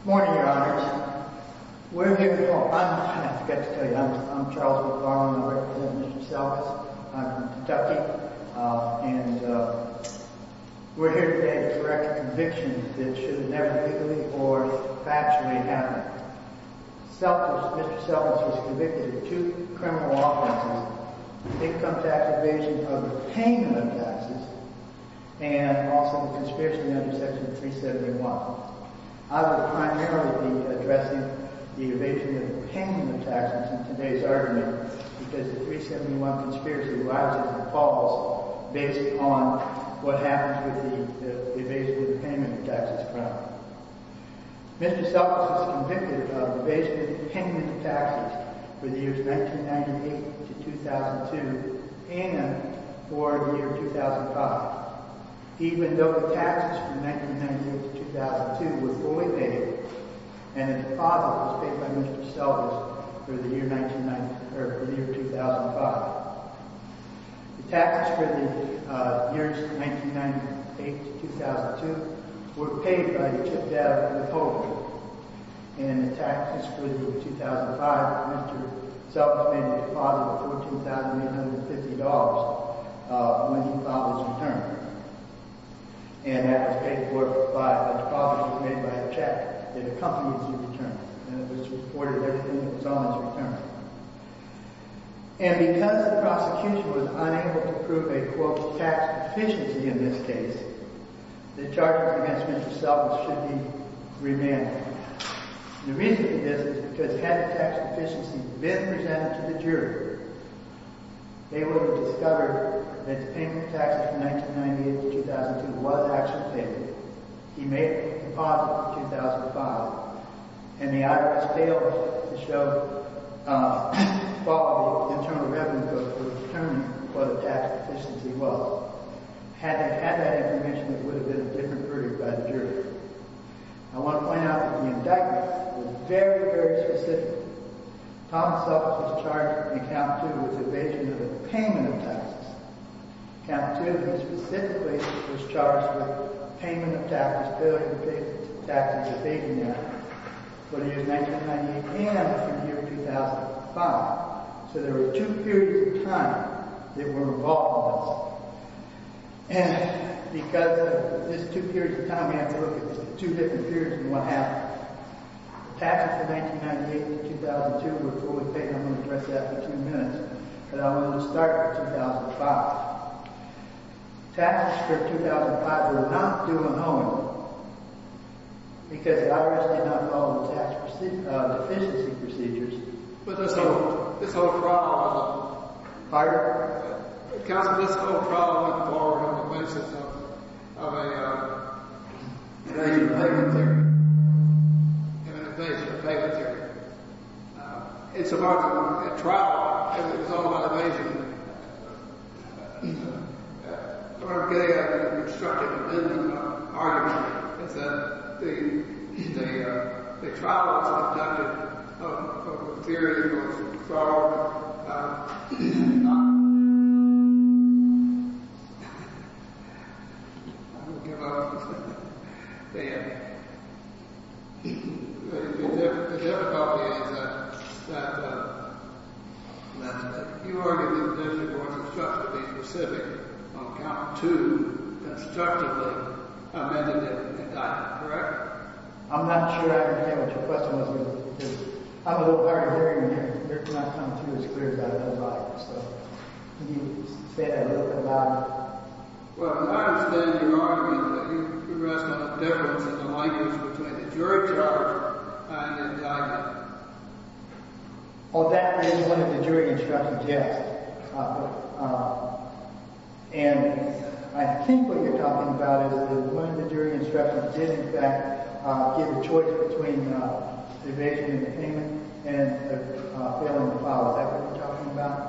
Good morning, Your Honors. We're here today to correct a conviction that should have never legally or factually happened. Mr. Selgas was convicted of two criminal offenses, the income tax evasion of the payment of taxes, and also the conspiracy under Section 371. I will primarily be addressing the evasion of the payment of taxes in today's argument, because the 371 conspiracy lies in the clause based on what happens with the evasion of the payment of taxes. Mr. Selgas was convicted of evasion of the payment of taxes for the years 1998-2002 and for the year 2005, even though the taxes from 1998-2002 were fully paid and the deposit was paid by Mr. Selgas for the year 2005. The taxes for the years 1998-2002 were paid by the tip-debt withholder, and the taxes for the year 2005 were paid by Mr. Selgas and his deposit of $14,850 when he filed his return. And that was paid for by a deposit made by a check that accompanies your return, and it was reported that it was on his return. And because the prosecution was unable to prove a, quote, tax deficiency in this case, the charges against Mr. Selgas should be remanded. The reason for this is because had the tax deficiency been presented to the jury, they would have discovered that the payment of taxes from 1998-2002 was actually paid. He made a deposit in 2005, and the IRS failed to show, follow internal evidence of the attorney for the tax deficiency well. Had they had that information, it would have been a different verdict by the jury. I want to point out that the indictment was very, very specific. Thomas Selgas was charged in account two with evasion of the payment of taxes. Account two, he specifically was charged with payment of taxes, failure to pay taxes evasion, for the year 1998 and for the year 2005. So there were two periods of time that were involved in this. And because of this two periods of time, we have to look at two different periods of what happened. Taxes from 1998-2002 were fully paid. I'm going to address that in two minutes, but I want to start with 2005. Taxes for 2005 were not due on home because the IRS did not follow the tax deficiency procedures. But this whole trial, this whole trial went forward on the basis of an evasion of payment theory. An evasion of payment theory. It's about a trial, and it's all about evasion. I'm going to get into an argument. It's that the trial was conducted on the theory of fraud. I'm going to give up. The difficulty is that you argued that there should be more constructively specific on account two constructively amended indictment, correct? I'm not sure I understand what your question was. I'm a little hard of hearing, and you're not coming through as clear as I would like. Can you say that a little bit louder? Well, I understand your argument, but you're asking about the difference in the language between the jury charge and the indictment. Well, that is one of the jury instructions, yes. And I think what you're talking about is that one of the jury instructions did, in fact, give a choice between evasion of payment and the failing of the file. Is that what you're talking about?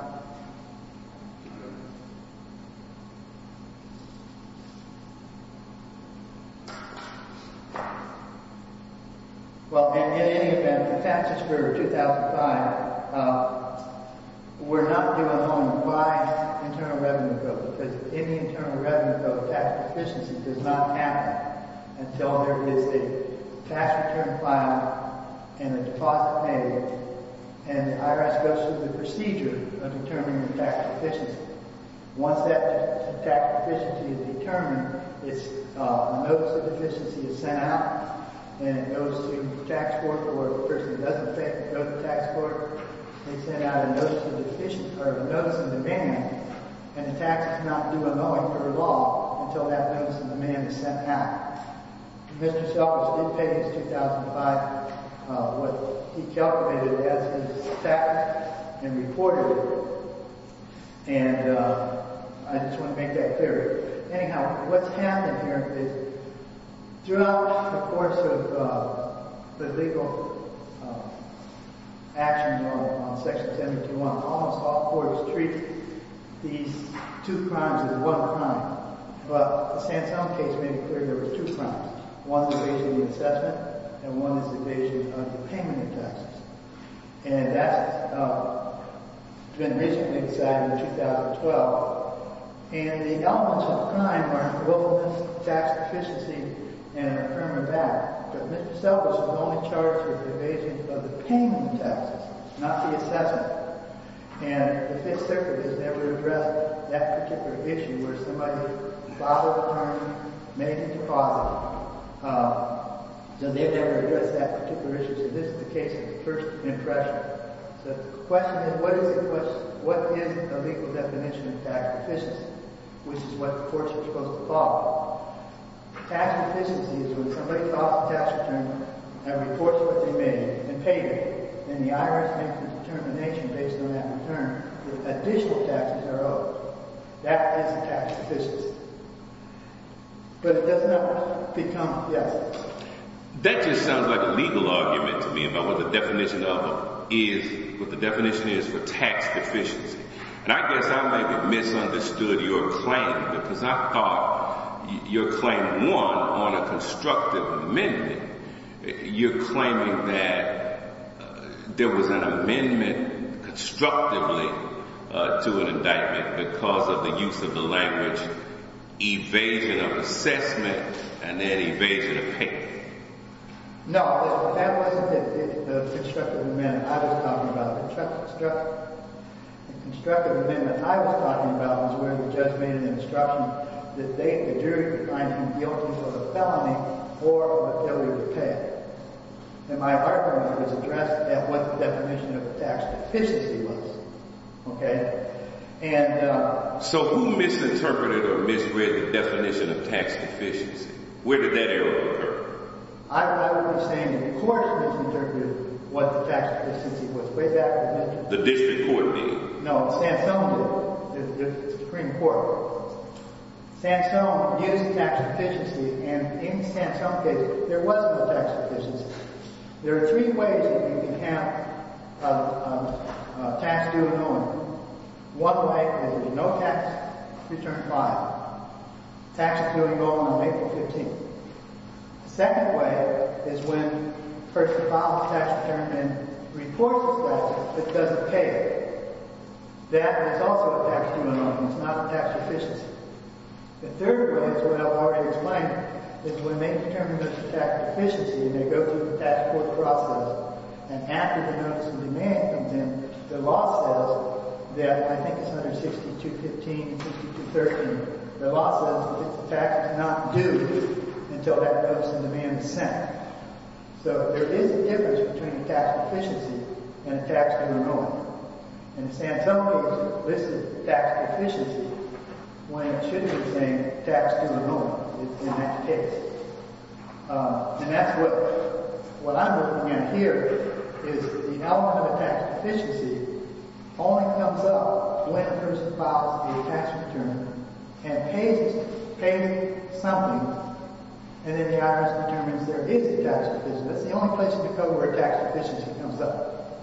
Well, in any event, the taxes were 2005. We're not going to go into why internal revenue goes, because if any internal revenue goes, tax proficiency does not happen until there is a tax return filed and a deposit paid, and the IRS goes through the procedure of evasion of payment. Once that tax proficiency is determined, a notice of deficiency is sent out, and it goes to the tax court, or the person who does the payment goes to the tax court. They send out a notice of demand, and the tax does not do a knowing or a law until that notice of demand is sent out. Mr. Sellers did pay his 2005, what he calculated as his tax, and reported it. And I just want to make that clear. Anyhow, what's happened here is throughout the course of the legal action on Section 721, almost all courts treat these two crimes as one crime. But the Sansone case made it clear there were two crimes. One is evasion of the assessment, and one is evasion of the payment of taxes. And that's been recently decided in 2012. And the elements of the crime are unworthiness, tax proficiency, and an affirmative act. But Mr. Sellers was only charged with evasion of the payment of taxes, not the assessment. And the Fifth Circuit has never addressed that particular issue where somebody filed a claim, made a deposit. So they've never addressed that particular issue. So this is the case of the first impression. So the question is, what is a legal definition of tax proficiency, which is what the courts are supposed to call it? Tax proficiency is when somebody files a tax return and reports what they made and paid it. And the IRS makes a determination based on that return that additional taxes are owed. That is a tax proficiency. But it doesn't ever become, yes. That just sounds like a legal argument to me about what the definition of it is, what the definition is for tax proficiency. And I guess I may have misunderstood your claim because I thought your claim won on a constructive amendment. You're claiming that there was an amendment constructively to an indictment because of the use of the language evasion of assessment and then evasion of payment. No, that wasn't the constructive amendment I was talking about. The constructive amendment I was talking about was where the judge made an instruction that the jury would find him guilty of a felony or of a failure to pay. And my argument was addressed at what the definition of tax proficiency was. And so who misinterpreted or misread the definition of tax proficiency? Where did that error occur? I would say the court misinterpreted what the tax proficiency was way back in the day. The district court did? No, the Sansone court, the Supreme Court. Sansone used tax proficiency. And in the Sansone case, there was no tax proficiency. There are three ways that we can have tax due and owing. One way is no tax return filed. Tax is due and going on April 15th. The second way is when the person files a tax return and reports that it doesn't pay. That is also a tax due and owing. It's not a tax proficiency. The third way is what I've already explained. It's when they determine that it's a tax proficiency and they go through the tax court process. And after the notice of demand comes in, the law says that I think it's 162.15 and 162.13. The law says that it's a tax not due until that notice of demand is sent. So there is a difference between a tax proficiency and a tax due and owing. In the Sansone case, this is tax proficiency. When it should be the same, tax due and owing. It's in that case. And that's what I'm looking at here is the element of a tax proficiency only comes up when a person files a tax return and pays something. And then the IRS determines there is a tax proficiency. That's the only place you can go where a tax proficiency comes up.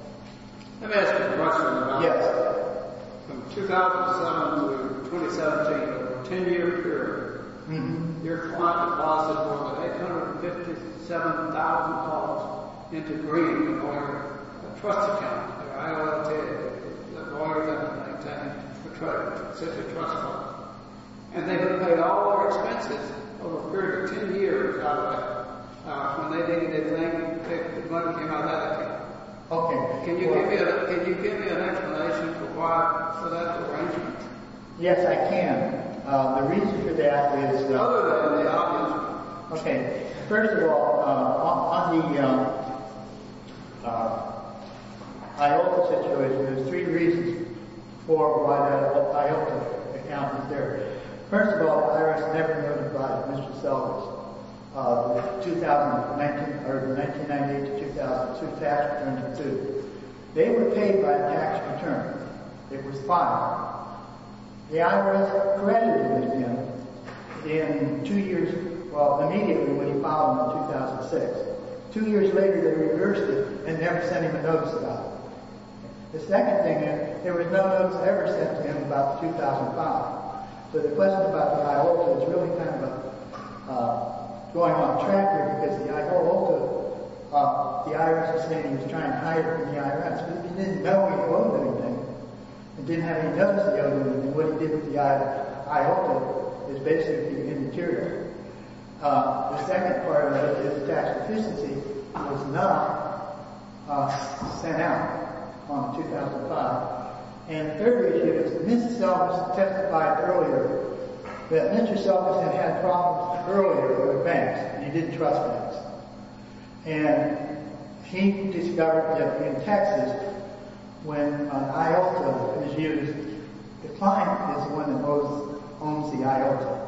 Let me ask you a question about this. From 2007 to 2017, over a 10-year period, your client deposited more than $857,000 into bringing the lawyer a trust account. The IRS did. The lawyer didn't maintain the trust. It was such a trust fund. And they would have paid all our expenses over a period of 10 years, I would have. When they didn't, they blamed the money came out of that account. Can you give me an explanation for why that's the reason? Yes, I can. The reason for that is... Tell her that in the audience. Okay. First of all, on the IOTA situation, there's three reasons for why the IOTA account is there. First of all, the IRS never notified Mr. Sellers of the 1998-2002 tax return to sue. They were paid by the tax return. It was filed. The IRS credited with him in two years... Well, immediately when he filed in 2006. Two years later, they reversed it and never sent him a notice about it. The second thing is, there was no notice ever sent to him about 2005. So, the question about the IOTA is really kind of going on track here, because the IOTA... The IRS is saying he's trying to hide it from the IRS. He didn't know he owed anything. He didn't have any notice the other day. And what he did with the IOTA is basically the interior. The second part is that his tax efficiency was not sent out on 2005. And the third issue is that Mr. Sellers testified earlier that Mr. Sellers had had problems earlier with banks, and he didn't trust banks. And he discovered that in Texas, when an IOTA is used, the client is the one that owns the IOTA.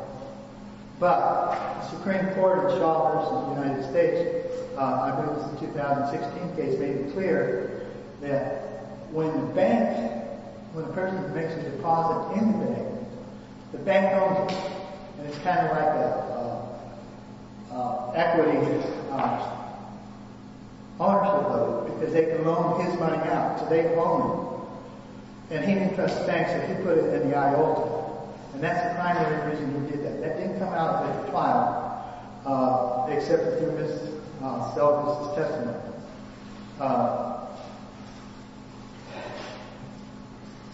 But the Supreme Court in Shaw v. United States, I believe it was the 2016 case, made it clear that when the bank... When a person makes a deposit in the bank, the bank owns it. And it's kind of like an equity ownership of it, because they can loan his money out, so they can loan him. And he didn't trust the banks, so he put it in the IOTA. And that's the primary reason he did that. That didn't come out of the client, except through Mr. Sellers' testimony.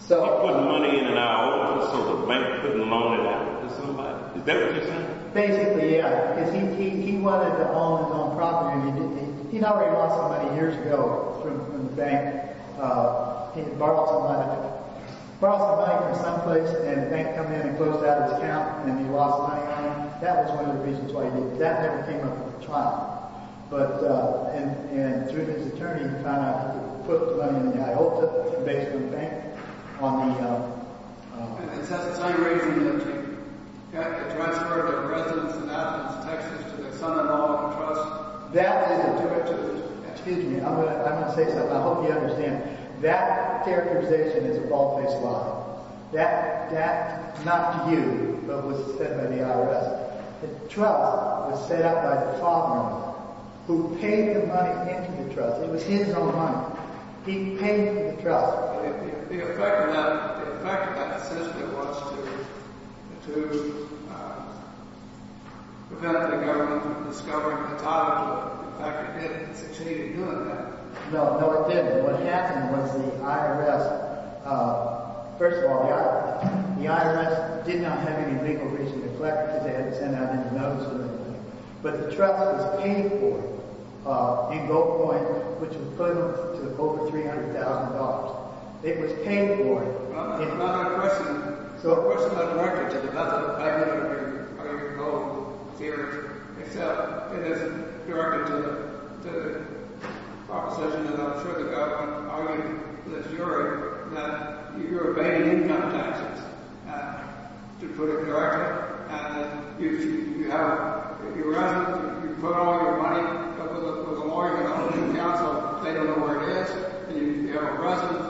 So I put the money in an IOTA so the bank couldn't loan it out to somebody? Is that what you're saying? Basically, yeah. Because he wanted to own his own property, and he'd already lost some money years ago from the bank. He borrowed some money from someplace, and the bank came in and closed down his account, and he lost the money on him. That was one of the reasons why he did it. That never came up in the trial. And through his attorney, he found out that he put the money in the IOTA, basically the bank, on the... And it says it's unregistered. Can I transfer the residence in Athens, Texas, to the Sonoma Local Trust? Excuse me. I'm going to say something. I hope you understand. That characterization is a bald-faced lie. That, not to you, but was said by the IRS. The trust was set up by the father-in-law, who paid the money into the trust. It was his own money. He paid the trust. The effect of that assessment was to prevent the government from discovering the title. In fact, it didn't succeed in doing that. No, no, it didn't. What happened was the IRS... First of all, the IRS did not have any legal reason to collect it, because they hadn't sent out any notice or anything. But the trust was paying for it in gold coins, which would put them to over $300,000. It was paying for it. Well, that's not my question. The question is not directed to the government. I don't know what your goal here is. Except, it isn't directed to the opposition. And I'm sure the government argued with the jury that you're paying income taxes to put it directly. And you have your residence. You put all your money. But the lawyer and the housing council, they don't know where it is. And you have a residence.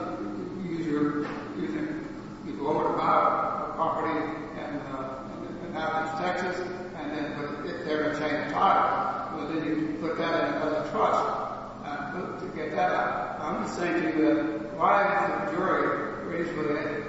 You go over to my property in Athens, Texas, and then put it there and say the title. Well, then you put that in front of the trust to get that out. I'm just saying to you that why would a jury reasonably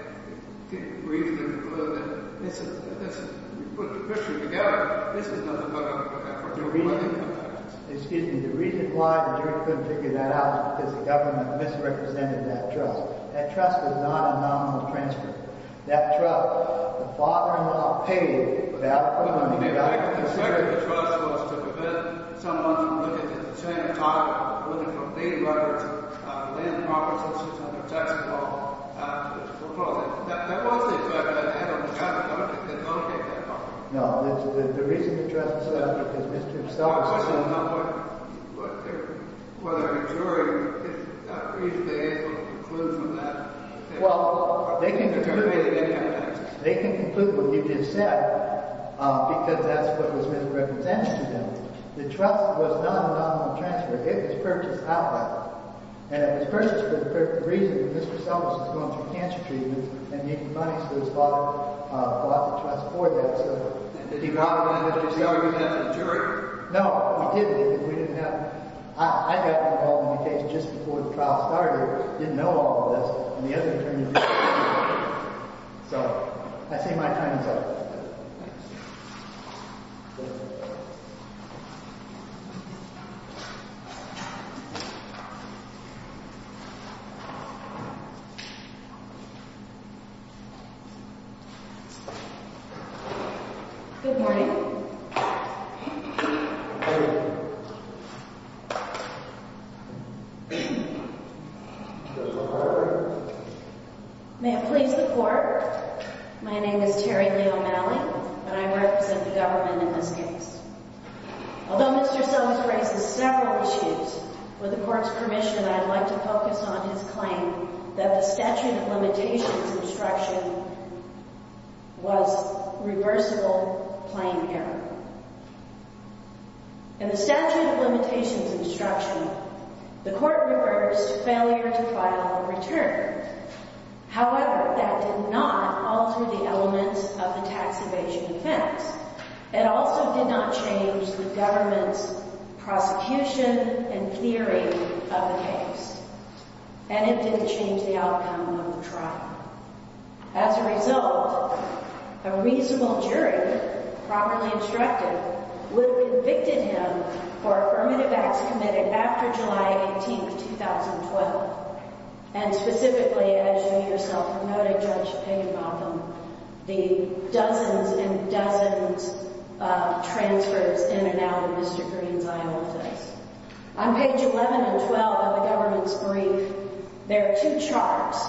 conclude that this is — if you put the picture together, this is what they're going to put in front of the trust. Excuse me. The reason why the jury couldn't figure that out is because the government misrepresented that trust. That trust was not a nominal transfer. That trust, the father-in-law paid that $400,000. The purpose of the trust was to prevent someone from looking at the same title, looking for paid workers, land properties, or something taxable. That wasn't the intent of the trust. The government didn't locate that property. No. The reason the trust said that is because Mr. Stolz said — I'm just saying, though, whether a jury is reasonably able to conclude from that — Well, they can conclude. They can conclude what you just said because that's what was misrepresented to them. The trust was not a nominal transfer. It was purchased outright. And it was purchased for the reason that Mr. Stolz was going through cancer treatment and needed money, so his father bought the trust for that. Did he buy it when Mr. Stolz didn't have the jury? No, he didn't. We didn't have — I got involved in the case just before the trial started. I didn't know all of this. And the other thing is — So, I say my time is up. Good morning. Good morning. Judge LaFleur. However, that did not alter the elements of the tax evasion offense. It also did not change the government's prosecution and theory of the case. And it didn't change the outcome of the trial. As a result, a reasonable jury, properly instructed, would have convicted him for affirmative acts committed after July 18, 2012. And specifically, as you yourself noted, Judge Paganbaum, the dozens and dozens of transfers in and out of Mr. Greene's Iowa case. On page 11 and 12 of the government's brief, there are two charts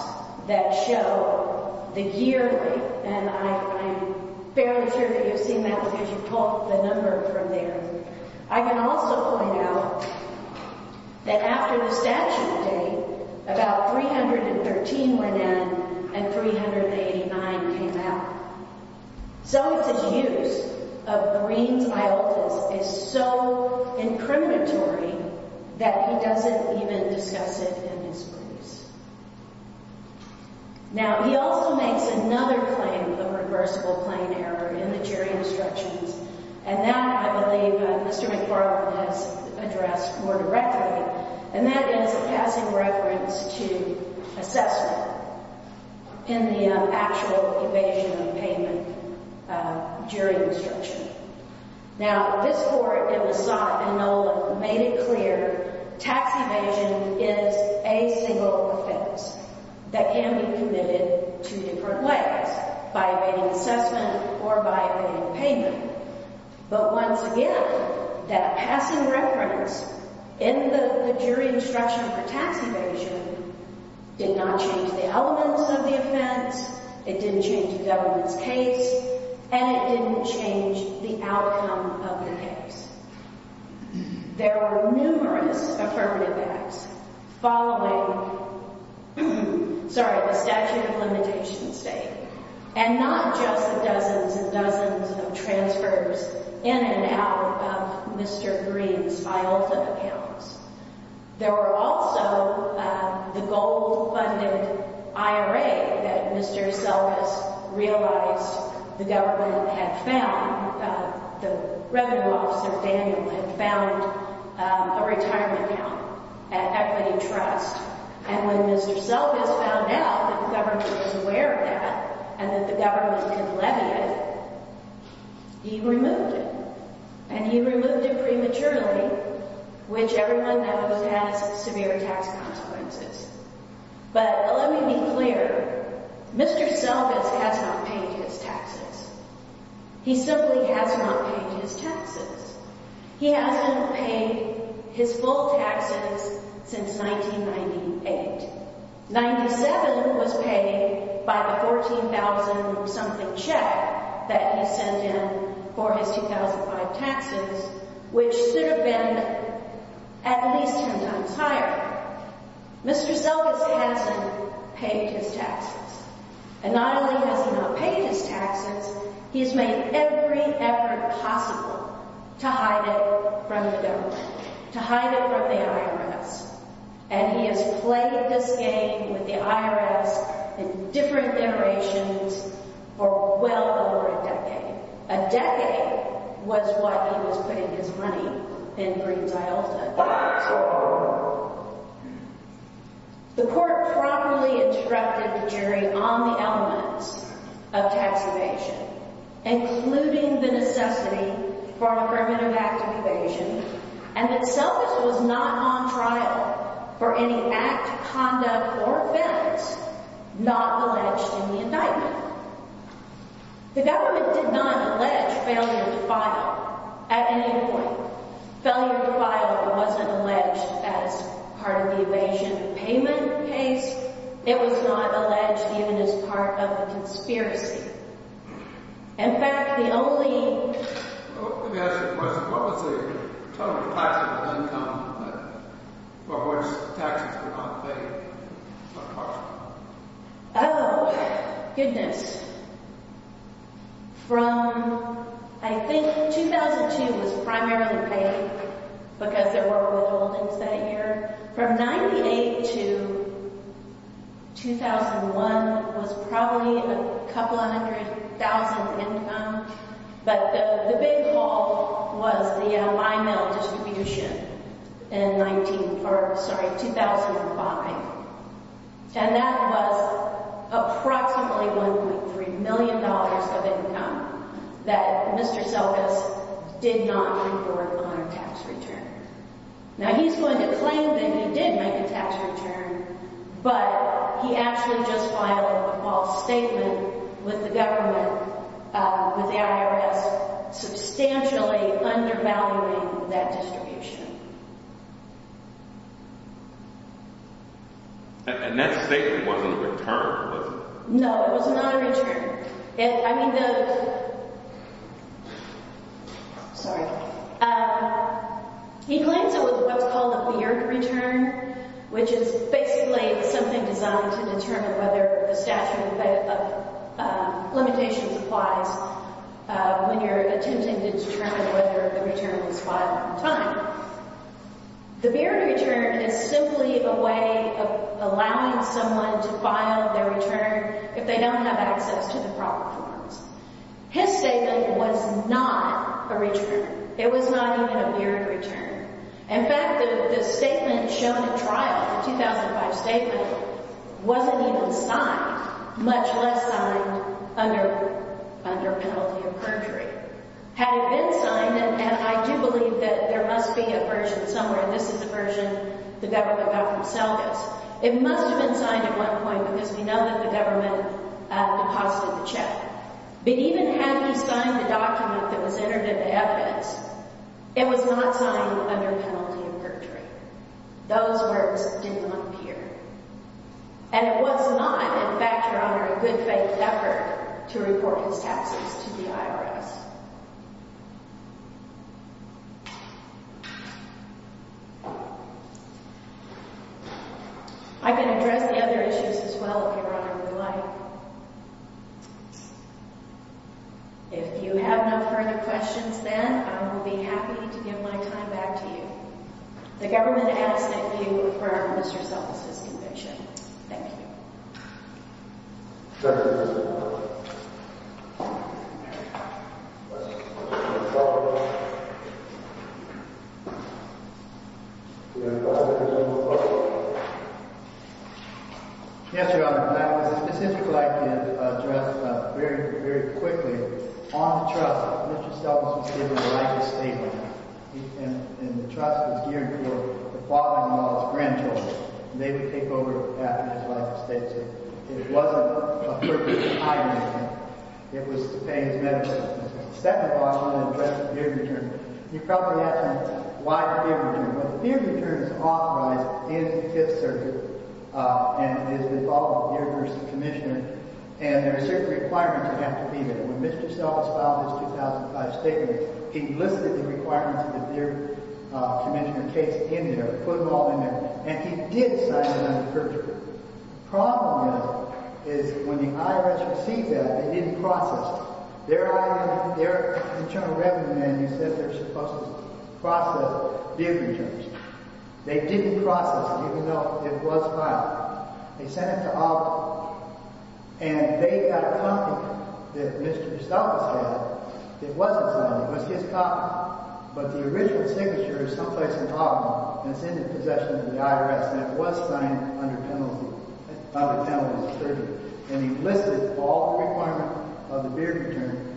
that show the yearly — and I'm fairly sure that you've seen that because you pulled the number from there. I can also point out that after the statute date, about 313 went in and 389 came out. So, his use of Greene's iota is so incriminatory that he doesn't even discuss it in his briefs. Now, he also makes another claim of reversible claim error in the jury instructions, and that, I believe, Mr. McFarland has addressed more directly. And that is a passing reference to assessment in the actual evasion of payment during the instruction. Now, this court, it was sought, and Nolan made it clear, tax evasion is a single offense that can be committed two different ways, by evading assessment or by evading payment. But once again, that passing reference in the jury instruction for tax evasion did not change the elements of the offense, it didn't change the government's case, and it didn't change the outcome of the case. There were numerous affirmative acts following — sorry, the statute of limitations date, and not just the dozens and dozens of transfers in and out of Mr. Greene's iota accounts. There were also the gold-funded IRA that Mr. Selvis realized the government had found, the revenue officer, Daniel, had found a retirement account at Equity Trust. And when Mr. Selvis found out that the government was aware of that and that the government could levy it, he removed it. And he removed it prematurely, which everyone knows has severe tax consequences. But let me be clear. Mr. Selvis has not paid his taxes. He simply has not paid his taxes. He hasn't paid his full taxes since 1998. Ninety-seven was paid by the $14,000-something check that he sent in for his 2005 taxes, which should have been at least ten times higher. Mr. Selvis hasn't paid his taxes. And not only has he not paid his taxes, he has made every effort possible to hide it from the government, to hide it from the IRS. And he has played this game with the IRS in different iterations for well over a decade. A decade was what he was putting his money in Greene's iota. The court properly instructed the jury on the elements of tax evasion, including the necessity for affirmative act evasion, and that Selvis was not on trial for any act, conduct, or offense not alleged in the indictment. The government did not allege failure to file at any point. Failure to file wasn't alleged as part of the evasion payment case. It was not alleged even as part of a conspiracy. In fact, the only... Let me ask you a question. What was the total taxable income for which taxes were not paid? Oh, goodness. From, I think, 2002 was primarily paid because there were withholdings that year. From 98 to 2001 was probably a couple hundred thousand income. But the big haul was the Lionel distribution in 19... sorry, 2005. And that was approximately $1.3 million of income that Mr. Selvis did not report on a tax return. Now, he's going to claim that he did make a tax return, but he actually just filed a false statement with the government, with the IRS, substantially undervaluing that distribution. And that statement wasn't a return, was it? No, it was not a return. I mean, the... Sorry. He claims it was what's called a Beard Return, which is basically something designed to determine whether the statute of limitations applies when you're attempting to determine whether the return was filed on time. The Beard Return is simply a way of allowing someone to file their return if they don't have access to the proper forms. His statement was not a return. It was not even a Beard Return. In fact, the statement shown at trial, the 2005 statement, wasn't even signed, much less signed under penalty of perjury. Had it been signed, and I do believe that there must be a version somewhere, this is the version the government got from Selvis, it must have been signed at one point because we know that the government deposited the check. But even had he signed the document that was entered into evidence, it was not signed under penalty of perjury. Those words did not appear. And it was not, in fact, Your Honor, a good faith effort to report his taxes to the IRS. I can address the other issues as well if Your Honor would like. If you have no further questions then, I will be happy to give my time back to you. The government asks that you confirm Mr. Selvis' conviction. Thank you. Yes, Your Honor. I would like to address very, very quickly. On the trust, Mr. Selvis was given a life estate. And the trust was gearing for the father-in-law's grandchildren. They would take over after his life estate. It wasn't a purpose of hiring him. It was to pay his medical expenses. Second of all, I want to address the Beard Return. You're probably asking why the Beard Return. Well, the Beard Return is authorized in the Fifth Circuit. And it is the law of Beard v. Commissioner. And there are certain requirements that have to be there. When Mr. Selvis filed his 2005 statement, he listed the requirements of the Beard Commissioner case in there, put them all in there. And he did sign them under perjury. The problem is, is when the IRS received that, they didn't process it. Their Internal Revenue Management said they're supposed to process Beard Returns. They didn't process it, even though it was filed. They sent it to Auburn. And they had a copy that Mr. Selvis had that wasn't signed. It was his copy. But the original signature is someplace in Auburn. And it's in the possession of the IRS. And it was signed under penalty of perjury. And he listed all the requirements of the Beard Return.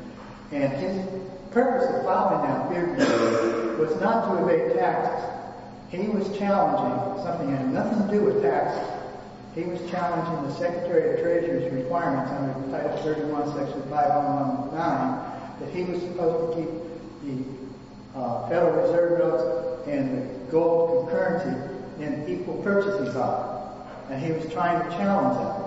And his purpose of filing that Beard Return was not to evade tax. He was challenging something that had nothing to do with tax. He was challenging the Secretary of Treasurer's requirements under Title 31, Section 501.9 that he was supposed to keep the Federal Reserve notes and the gold concurrency in equal purchasing power. And he was trying to challenge that.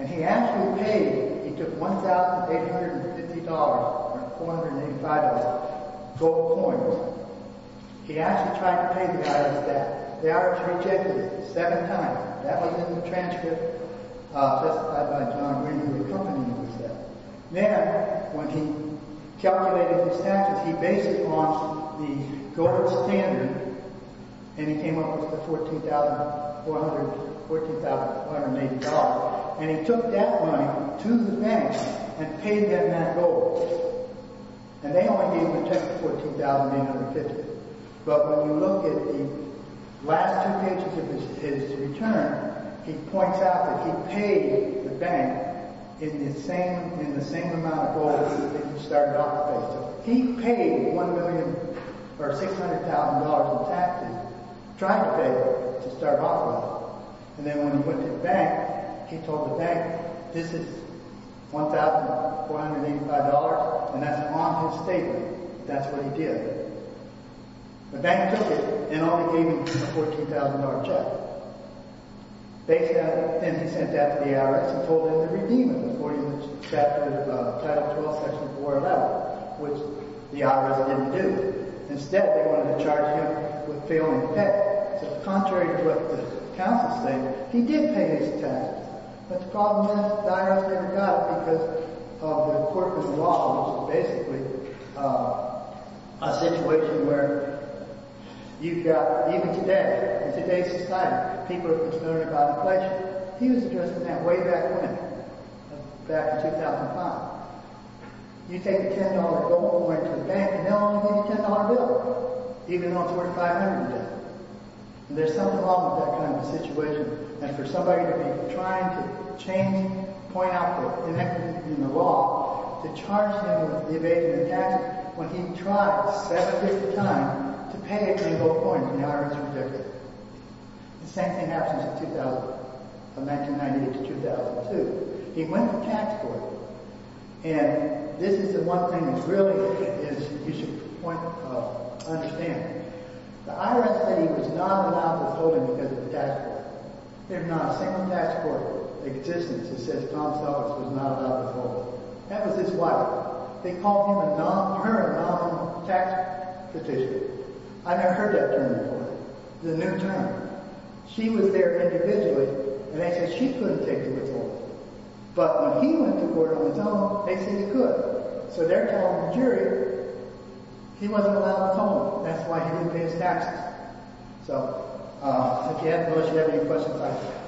And he actually paid. He took $1,850, or $485, gold coins. He actually tried to pay the IRS that. The IRS rejected it seven times. That was in the transcript testified by John Green, who accompanied him with that. Then, when he calculated his taxes, he based it on the gold standard. And he came up with the $14,480. And he took that money to the bank and paid them that gold. And they only gave him a check of $14,850. But when you look at the last two pages of his return, he points out that he paid the bank in the same amount of gold that he started off with. He paid $1,000,000 or $600,000 in taxes, trying to pay to start off with. And then when he went to the bank, he told the bank, this is $1,485, and that's on his statement. That's what he did. The bank took it, and only gave him a $14,000 check. Then he sent that to the IRS and told them to redeem him according to Chapter 12, Section 411, which the IRS didn't do. Instead, they wanted to charge him with failing to pay. So contrary to what the counsels say, he did pay his taxes. But the problem is, the IRS never got it because of the corpus law, which is basically a situation where you've got, even today, in today's society, people are concerned about inflation. He was addressing that way back when, back in 2005. You take $10 of gold and went to the bank, and they'll only give you a $10 bill, even on $1,400 a day. And there's something wrong with that kind of a situation. And for somebody to be trying to change, point out the inequity in the law, to charge him with evasion of taxes, when he tried 750 times to pay $10 gold coins, the IRS is ridiculous. The same thing happens in 2000, from 1998 to 2002. He went to the tax board. And this is the one thing that really is, you should understand. The IRS said he was not allowed withholding because of the tax board. There's not a single tax board in existence that says Tom Sellers was not allowed withholding. That was his wife. They called him a non-parent, non-tax petitioner. I never heard that term before. It's a new term. She was there individually, and they said she couldn't take the withholding. But when he went to court on his own, they said he could. So they're telling the jury he wasn't allowed withholding. That's why he didn't pay his taxes. So, again, unless you have any questions, I'm done.